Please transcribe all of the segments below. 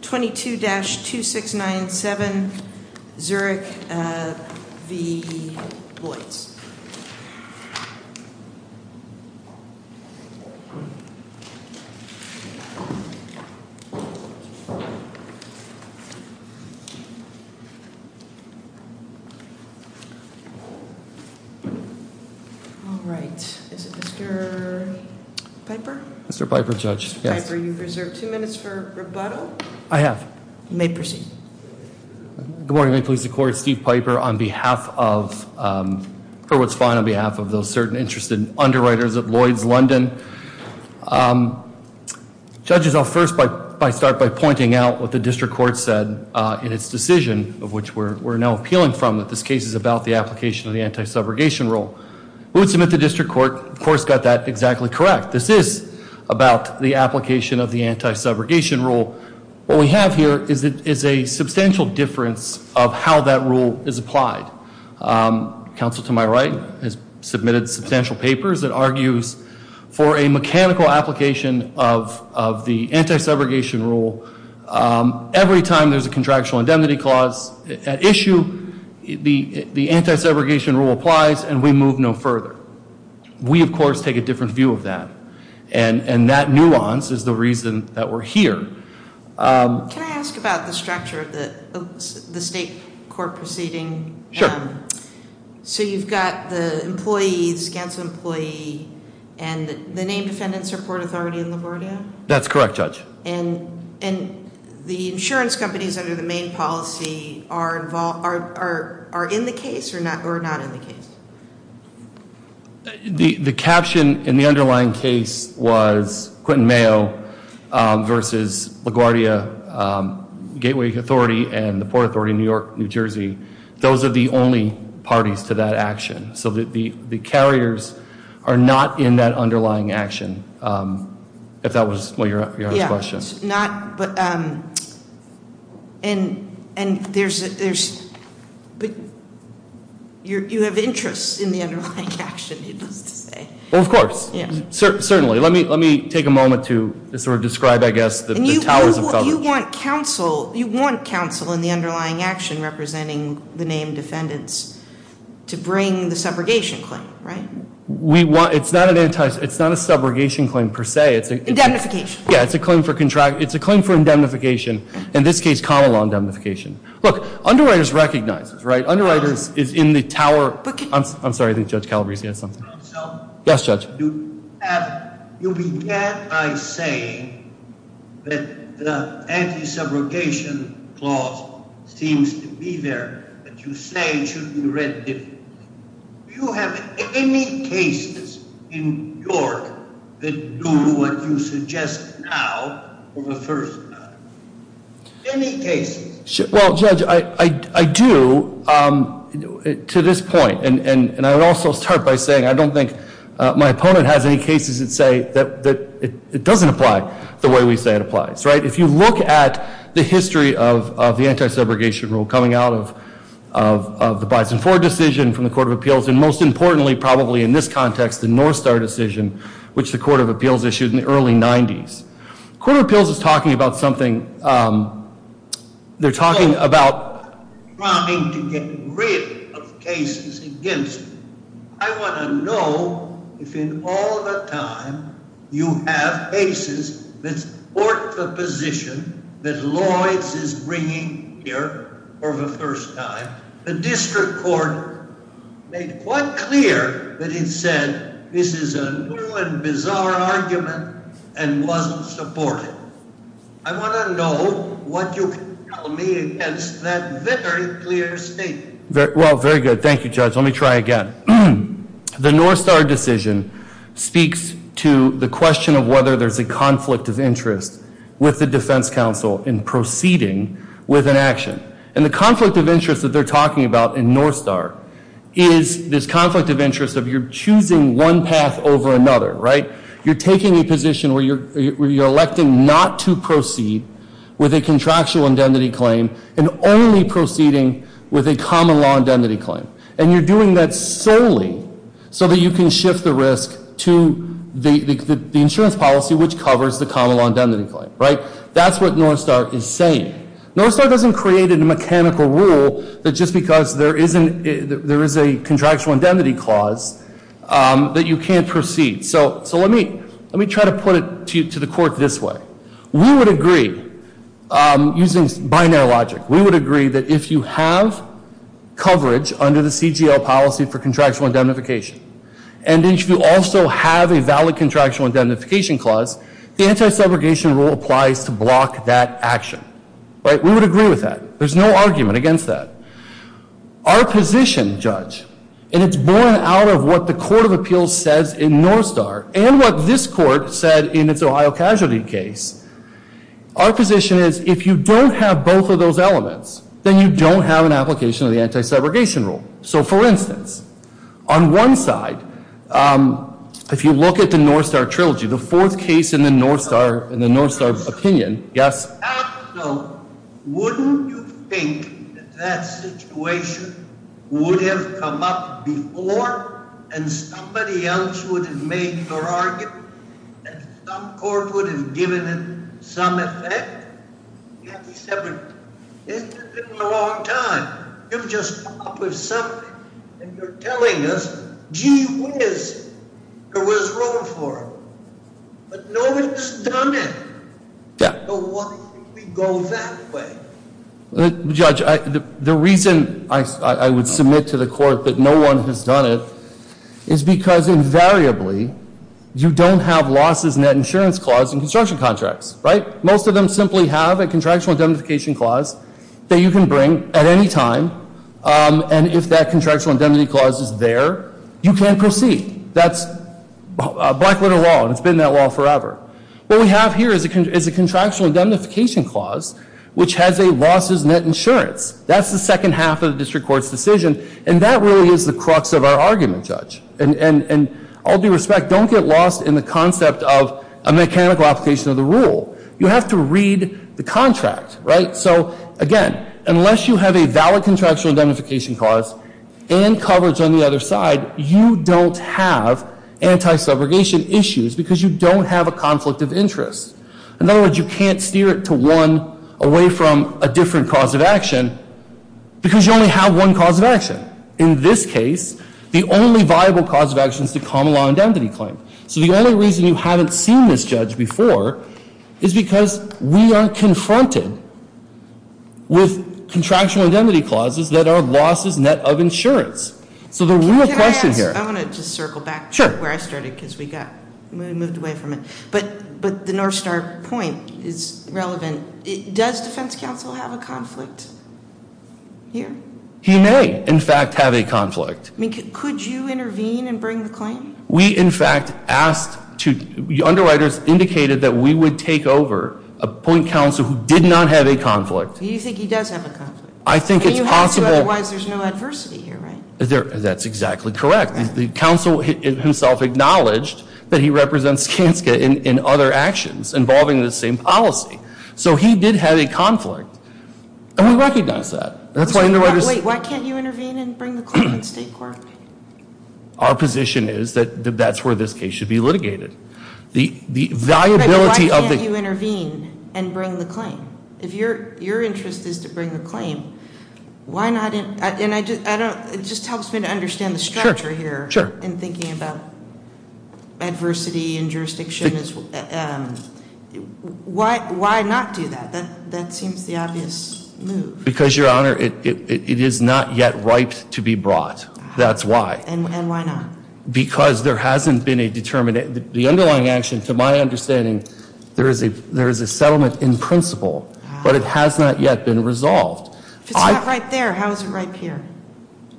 22-2697 Zurich v. Lloyd's. Alright, is it Mr. Piper? Mr. Piper, you've reserved two minutes for rebuttal. I have. You may proceed. Good morning, Ma'am Police Department. Steve Piper on behalf of, or what's fine on behalf of those Certain Interested Underwriters at Lloyd's London. Judges, I'll first start by pointing out what the district court said in its decision, of which we're now appealing from, that this case is about the application of the anti-subrogation rule. Who would submit to district court, of course, got that exactly correct. This is about the application of the anti-subrogation rule. What we have here is a substantial difference of how that rule is applied. Counsel to my right has submitted substantial papers that argues for a mechanical application of the anti-subrogation rule. Every time there's a contractual indemnity clause at issue, the anti-subrogation rule applies and we move no further. We, of course, take a different view of that. And that nuance is the reason that we're here. Can I ask about the structure of the state court proceeding? Sure. So you've got the employees, Gant's employee, and the named defendants are Port Authority and LaGuardia? That's correct, Judge. And the insurance companies under the main policy are involved, are in the case or not in the case? The caption in the underlying case was Quentin Mayo versus LaGuardia, Gateway Authority, and the Port Authority of New York, New Jersey. Those are the only parties to that action. So the carriers are not in that underlying action, if that was what you're asking. Not, but, and there's, you have interests in the underlying action, needless to say. Well, of course. Certainly. Let me take a moment to sort of describe, I guess, the towers of government. You want counsel in the underlying action representing the named defendants to bring the subrogation claim, right? It's not a subrogation claim, per se. Indemnification. Yeah, it's a claim for, it's a claim for indemnification. In this case, common law indemnification. Look, underwriters recognize this, right? Underwriters is in the tower. I'm sorry, I think Judge Calabresi has something. Yes, Judge. You began by saying that the anti-subrogation clause seems to be there, but you say it should be read differently. Do you have any cases in York that do what you suggest now for the first time? Any cases? Well, Judge, I do to this point, and I would also start by saying I don't think my opponent has any cases that say that it doesn't apply the way we say it applies, right? If you look at the history of the anti-subrogation rule coming out of the Bison Ford decision from the Court of Appeals, and most importantly, probably in this context, the North Star decision, which the Court of Appeals issued in the early 90s. Court of Appeals is talking about something, they're talking about trying to get rid of cases against me. I want to know if in all the time you have cases that support the position that Lloyds is bringing here for the first time. The district court made quite clear that it said this is a new and bizarre argument and wasn't supportive. I want to know what you can tell me against that very clear statement. Well, very good. Thank you, Judge. Let me try again. The North Star decision speaks to the question of whether there's a conflict of interest with the defense counsel in proceeding with an action. And the conflict of interest that they're talking about in North Star is this conflict of interest of you're choosing one path over another, right? You're taking a position where you're electing not to proceed with a contractual indemnity claim and only proceeding with a common law indemnity claim. And you're doing that solely so that you can shift the risk to the insurance policy which covers the common law indemnity claim, right? That's what North Star is saying. North Star doesn't create a mechanical rule that just because there is a contractual indemnity clause that you can't proceed. So let me try to put it to the court this way. We would agree, using binary logic, we would agree that if you have coverage under the CGL policy for contractual indemnification and if you also have a valid contractual indemnification clause, the anti-segregation rule applies to block that action, right? We would agree with that. There's no argument against that. Our position, Judge, and it's born out of what the Court of Appeals says in North Star and what this court said in its Ohio Casualty case, our position is if you don't have both of those elements, then you don't have an application of the anti-segregation rule. So for instance, on one side, if you look at the North Star Trilogy, the fourth case in the North Star opinion, yes? I don't know. Wouldn't you think that that situation would have come up before and somebody else would have made their argument and some court would have given it some effect? It's been a long time. You've just come up with something and you're telling us, gee whiz, there was room for it. But no one has done it. So why did we go that way? Judge, the reason I would submit to the court that no one has done it is because invariably, you don't have losses in that insurance clause in construction contracts, right? Most of them simply have a contractual indemnification clause that you can bring at any time and if that contractual indemnity clause is there, you can't proceed. That's Blackwater law and it's been that law forever. What we have here is a contractual indemnification clause which has a losses net insurance. That's the second half of the district court's decision and that really is the crux of our argument, Judge. And all due respect, don't get lost in the concept of a mechanical application of the rule. You have to read the contract, right? So again, unless you have a valid contractual indemnification clause and coverage on the other side, you don't have anti-segregation issues because you don't have a conflict of interest. In other words, you can't steer it to one away from a different cause of action because you only have one cause of action. In this case, the only viable cause of action is the common law indemnity claim. So the only reason you haven't seen this, Judge, before is because we are confronted with contractual indemnity clauses that are losses net of insurance. So the real question here... Can I ask? I want to just circle back to where I started because we moved away from it. But the North Star point is relevant. Does defense counsel have a conflict here? He may, in fact, have a conflict. Could you intervene and bring the claim? We, in fact, asked to... The underwriters indicated that we would take over, appoint counsel who did not have a conflict. You think he does have a conflict? I think it's possible... And you have to, otherwise there's no adversity here, right? That's exactly correct. The counsel himself acknowledged that he represents Skanska in other actions involving this same policy. So he did have a conflict. And we recognize that. Wait, why can't you intervene and bring the claim to the State Court? Our position is that that's where this case should be litigated. The viability of the... Wait, why can't you intervene and bring the claim? If your interest is to bring the claim, why not... And it just helps me to understand the structure here in thinking about adversity and jurisdiction. Why not do that? That seems the obvious move. Because, Your Honor, it is not yet ripe to be brought. That's why. And why not? Because there hasn't been a determined... The underlying action, to my understanding, there is a settlement in principle, but it has not yet been resolved. If it's not right there, how is it right here?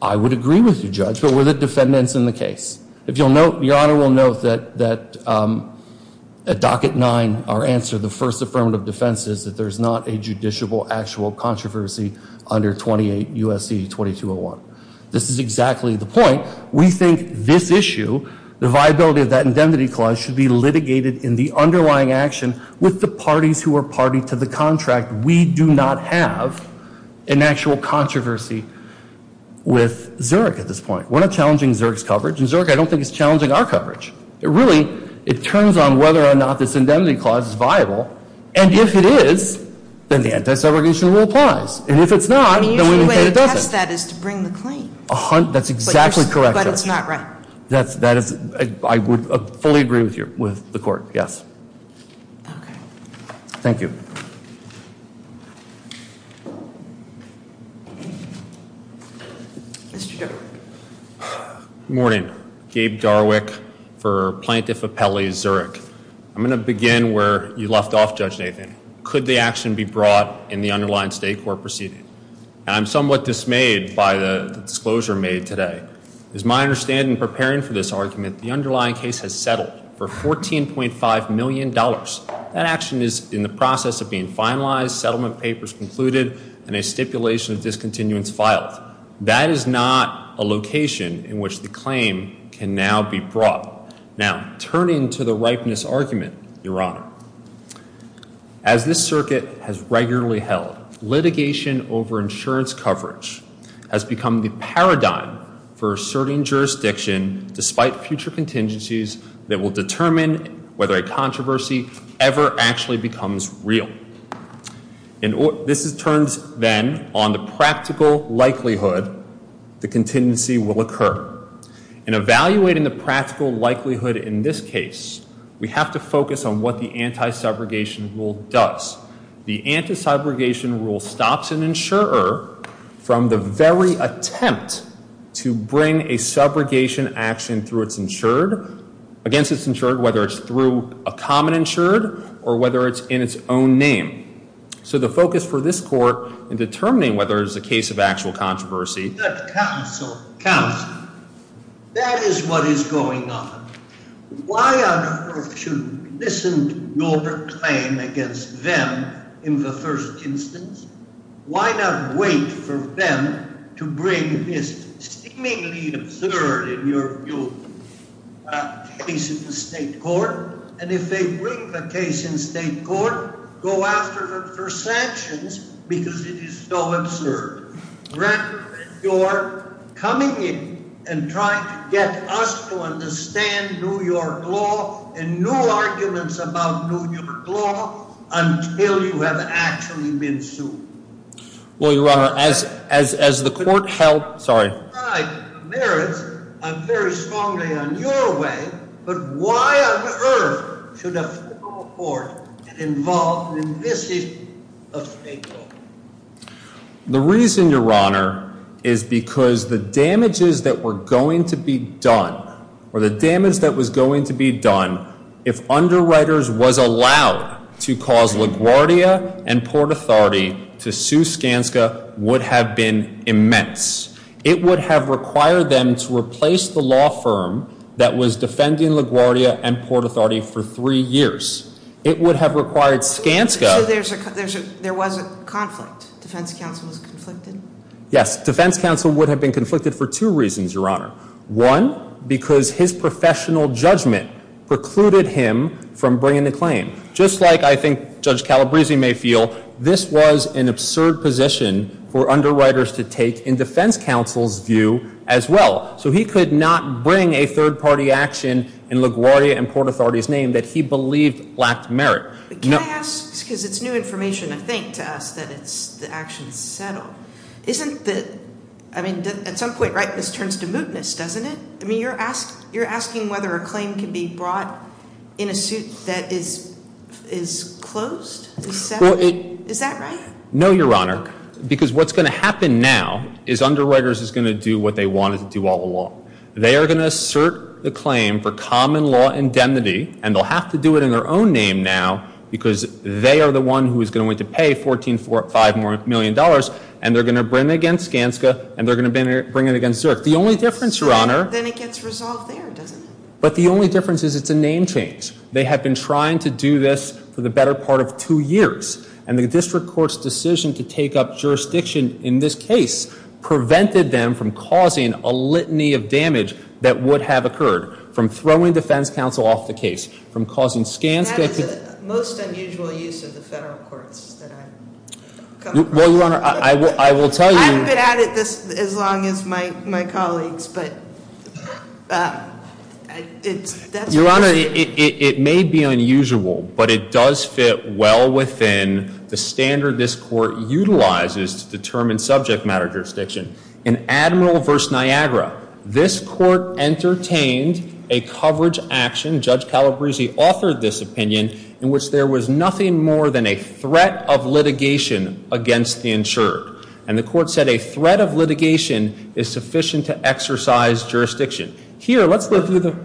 I would agree with you, Judge, but we're the defendants in the case. If you'll note, Your Honor will note that at Docket 9, our answer, the first affirmative defense, is that there's not a judiciable actual controversy under 28 U.S.C. 2201. This is exactly the point. We think this issue, the viability of that indemnity clause, should be litigated in the underlying action with the parties who are party to the contract. We do not have an actual controversy with Zurich at this point. We're not challenging Zurich's coverage, and Zurich, I don't think, is challenging our coverage. Really, it turns on whether or not this indemnity clause is viable. And if it is, then the anti-segregation rule applies. And if it's not, then we maintain it doesn't. The usual way to test that is to bring the claim. That's exactly correct, Judge. But it's not right. That is, I would fully agree with you, with the court, yes. Okay. Thank you. Thank you. Mr. Darwick. Good morning. Gabe Darwick for Plaintiff Appellee Zurich. I'm going to begin where you left off, Judge Nathan. Could the action be brought in the underlying state court proceeding? And I'm somewhat dismayed by the disclosure made today. As my understanding, preparing for this argument, the underlying case has settled for $14.5 million. That action is in the process of being finalized, settlement papers concluded, and a stipulation of discontinuance filed. That is not a location in which the claim can now be brought. Now, turning to the ripeness argument, Your Honor, as this circuit has regularly held, litigation over insurance coverage has become the paradigm for asserting jurisdiction, despite future contingencies that will determine whether a controversy ever actually becomes real. This turns, then, on the practical likelihood the contingency will occur. In evaluating the practical likelihood in this case, we have to focus on what the anti-subrogation rule does. The anti-subrogation rule stops an insurer from the very attempt to bring a subrogation action through its insured, against its insured, whether it's through a common insured or whether it's in its own name. So the focus for this court in determining whether it is a case of actual controversy Counsel, that is what is going on. Why on earth should we listen to your claim against them in the first instance? Why not wait for them to bring this seemingly absurd, in your view, case in the state court? And if they bring the case in state court, go after them for sanctions because it is so absurd. Grant that you're coming in and trying to get us to understand New York law and new arguments about New York law until you have actually been sued. Well, Your Honor, as the court held, sorry. I'm very strongly on your way, but why on earth should a federal court get involved in this issue of state law? The reason, Your Honor, is because the damages that were going to be done or the damage that was going to be done if underwriters was allowed to cause LaGuardia and Port Authority to sue Skanska would have been immense. It would have required them to replace the law firm that was defending LaGuardia and Port Authority for three years. It would have required Skanska. So there was a conflict? Defense counsel was conflicted? Yes. Defense counsel would have been conflicted for two reasons, Your Honor. One, because his professional judgment precluded him from bringing the claim. Just like I think Judge Calabresi may feel, this was an absurd position for underwriters to take in defense counsel's view as well. So he could not bring a third-party action in LaGuardia and Port Authority's name that he believed lacked merit. Can I ask, because it's new information, I think, to us that the action is settled. Isn't the – I mean, at some point, right, this turns to mootness, doesn't it? I mean, you're asking whether a claim can be brought in a suit that is closed? Is that right? No, Your Honor, because what's going to happen now is underwriters is going to do what they wanted to do all along. They are going to assert the claim for common law indemnity, and they'll have to do it in their own name now because they are the one who is going to pay $14.5 million, and they're going to bring it against Skanska, and they're going to bring it against Zerk. The only difference, Your Honor – Then it gets resolved there, doesn't it? But the only difference is it's a name change. They have been trying to do this for the better part of two years, and the district court's decision to take up jurisdiction in this case prevented them from causing a litany of damage that would have occurred, from throwing defense counsel off the case, from causing Skanska to – That is the most unusual use of the federal courts that I've come across. Well, Your Honor, I will tell you – I haven't been at it as long as my colleagues, but it's – Your Honor, it may be unusual, but it does fit well within the standard this court utilizes to determine subject matter jurisdiction. In Admiral v. Niagara, this court entertained a coverage action – Judge Calabresi authored this opinion – in which there was nothing more than a threat of litigation against the insured. And the court said a threat of litigation is sufficient to exercise jurisdiction. Here, let's look through the –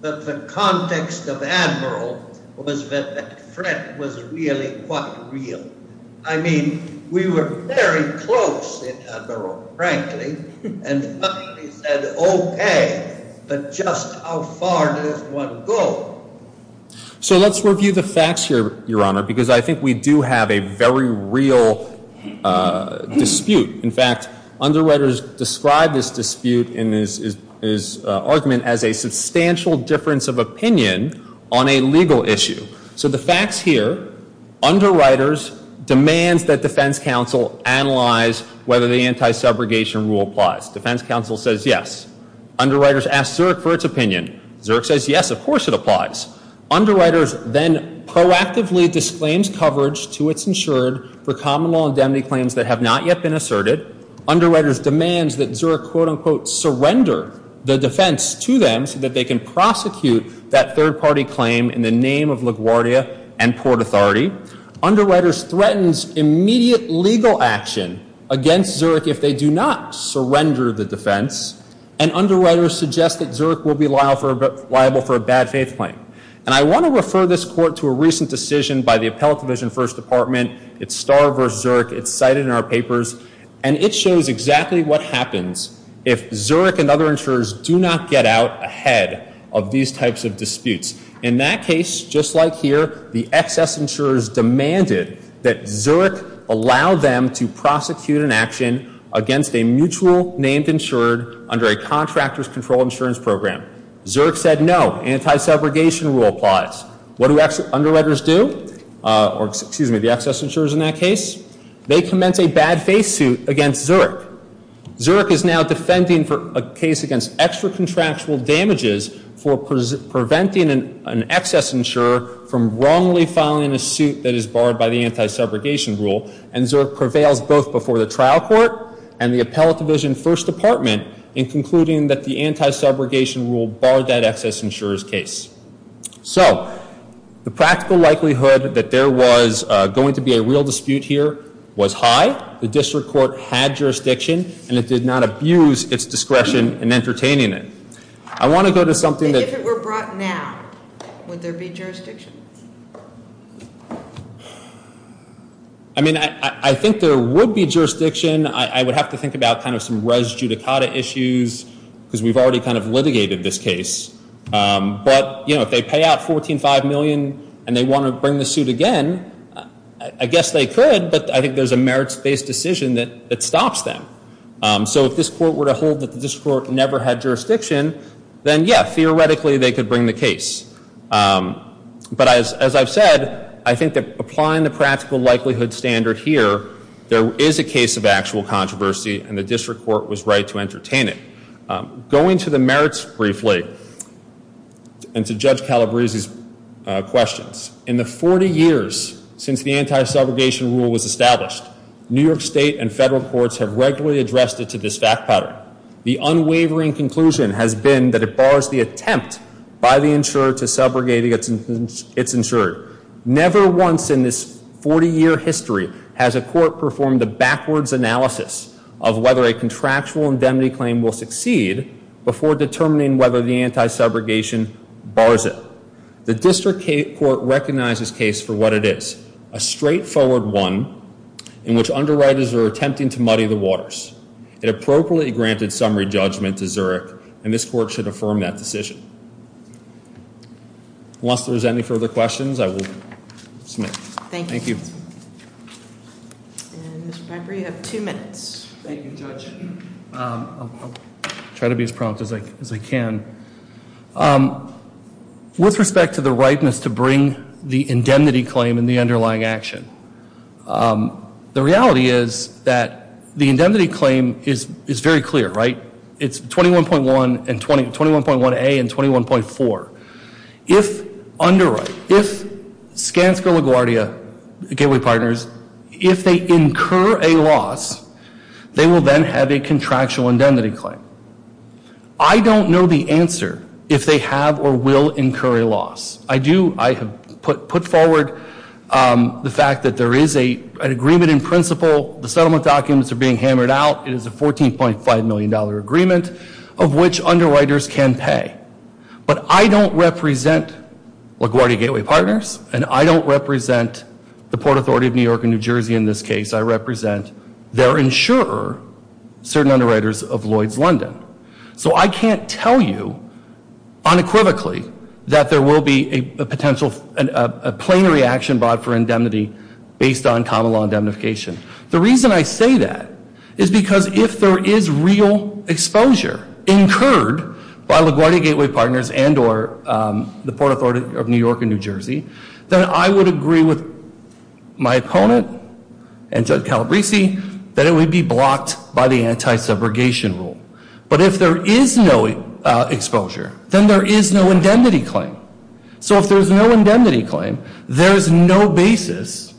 But the context of Admiral was that that threat was really quite real. I mean, we were very close in Admiral, frankly, and frankly said, okay, but just how far does one go? So let's review the facts here, Your Honor, because I think we do have a very real dispute. In fact, underwriters describe this dispute in his argument as a substantial difference of opinion on a legal issue. So the facts here, underwriters demands that defense counsel analyze whether the anti-segregation rule applies. Defense counsel says yes. Underwriters asks Zerk for its opinion. Zerk says yes, of course it applies. Underwriters then proactively disclaims coverage to its insured for common law indemnity claims that have not yet been asserted. Underwriters demands that Zerk, quote-unquote, surrender the defense to them so that they can prosecute that third-party claim in the name of LaGuardia and Port Authority. Underwriters threatens immediate legal action against Zerk if they do not surrender the defense. And underwriters suggests that Zerk will be liable for a bad faith claim. And I want to refer this court to a recent decision by the Appellate Division First Department. It's Starr v. Zerk. It's cited in our papers. And it shows exactly what happens if Zerk and other insurers do not get out ahead of these types of disputes. In that case, just like here, the excess insurers demanded that Zerk allow them to prosecute an action against a mutual named insured under a contractor's controlled insurance program. Zerk said no. Anti-subrogation rule applies. What do underwriters do, or excuse me, the excess insurers in that case? They commence a bad faith suit against Zerk. Zerk is now defending a case against extra contractual damages for preventing an excess insurer from wrongly filing a suit that is barred by the anti-subrogation rule. And Zerk prevails both before the trial court and the Appellate Division First Department in concluding that the anti-subrogation rule barred that excess insurer's case. So the practical likelihood that there was going to be a real dispute here was high. The district court had jurisdiction, and it did not abuse its discretion in entertaining it. I want to go to something that- If it were brought now, would there be jurisdiction? I mean, I think there would be jurisdiction. I would have to think about kind of some res judicata issues because we've already kind of litigated this case. But, you know, if they pay out $14.5 million and they want to bring the suit again, I guess they could, but I think there's a merits-based decision that stops them. So if this court were to hold that the district court never had jurisdiction, then, yeah, theoretically they could bring the case. But as I've said, I think that applying the practical likelihood standard here, there is a case of actual controversy, and the district court was right to entertain it. Going to the merits briefly and to Judge Calabresi's questions, in the 40 years since the anti-subrogation rule was established, New York State and federal courts have regularly addressed it to this fact pattern. The unwavering conclusion has been that it bars the attempt by the insurer to subrogate its insurer. Never once in this 40-year history has a court performed a backwards analysis of whether a contractual indemnity claim will succeed before determining whether the anti-subrogation bars it. The district court recognizes this case for what it is, a straightforward one in which underwriters are attempting to muddy the waters. It appropriately granted summary judgment to Zurich, and this court should affirm that decision. Unless there's any further questions, I will submit. Thank you. Thank you. And Mr. Pembrey, you have two minutes. Thank you, Judge. I'll try to be as prompt as I can. With respect to the rightness to bring the indemnity claim in the underlying action, the reality is that the indemnity claim is very clear, right? It's 21.1A and 21.4. If underwrite, if Skanska LaGuardia Gateway Partners, if they incur a loss, they will then have a contractual indemnity claim. I don't know the answer if they have or will incur a loss. I do. I have put forward the fact that there is an agreement in principle. The settlement documents are being hammered out. It is a $14.5 million agreement of which underwriters can pay. But I don't represent LaGuardia Gateway Partners, and I don't represent the Port Authority of New York and New Jersey in this case. I represent their insurer, certain underwriters of Lloyd's London. So I can't tell you unequivocally that there will be a potential, a plenary action brought for indemnity based on common law indemnification. The reason I say that is because if there is real exposure incurred by LaGuardia Gateway Partners and or the Port Authority of New York and New Jersey, then I would agree with my opponent and Judge Calabresi that it would be blocked by the anti-subrogation rule. But if there is no exposure, then there is no indemnity claim. So if there is no indemnity claim, there is no basis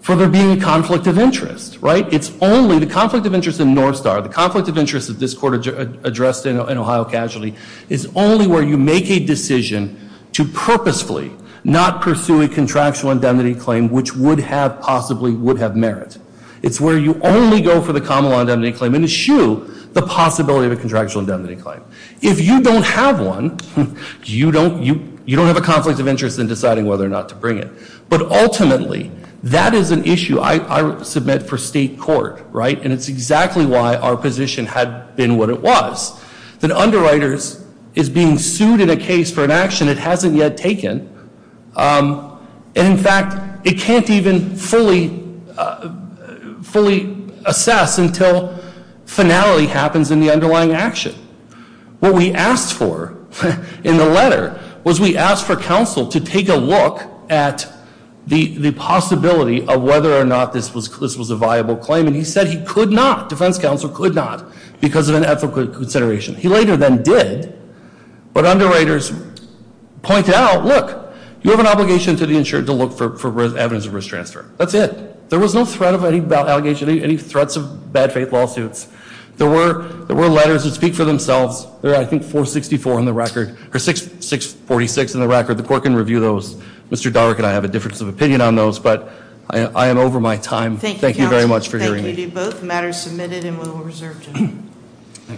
for there being a conflict of interest, right? It's only the conflict of interest in Northstar, the conflict of interest that this court addressed in Ohio Casualty, is only where you make a decision to purposefully not pursue a contractual indemnity claim which would have possibly would have merit. It's where you only go for the common law indemnity claim and eschew the possibility of a contractual indemnity claim. If you don't have one, you don't have a conflict of interest in deciding whether or not to bring it. But ultimately, that is an issue I submit for state court, right? And it's exactly why our position had been what it was, that underwriters is being sued in a case for an action it hasn't yet taken. And in fact, it can't even fully assess until finality happens in the underlying action. What we asked for in the letter was we asked for counsel to take a look at the possibility of whether or not this was a viable claim. And he said he could not, defense counsel could not, because of an ethical consideration. He later then did, but underwriters pointed out, look, you have an obligation to the insured to look for evidence of risk transfer. That's it. There was no threat of any allegation, any threats of bad faith lawsuits. There were letters that speak for themselves. There are, I think, 464 in the record, or 646 in the record. The court can review those. Mr. Dorek and I have a difference of opinion on those, but I am over my time. Thank you very much for hearing me. Thank you. Both matters submitted and will be reserved to him.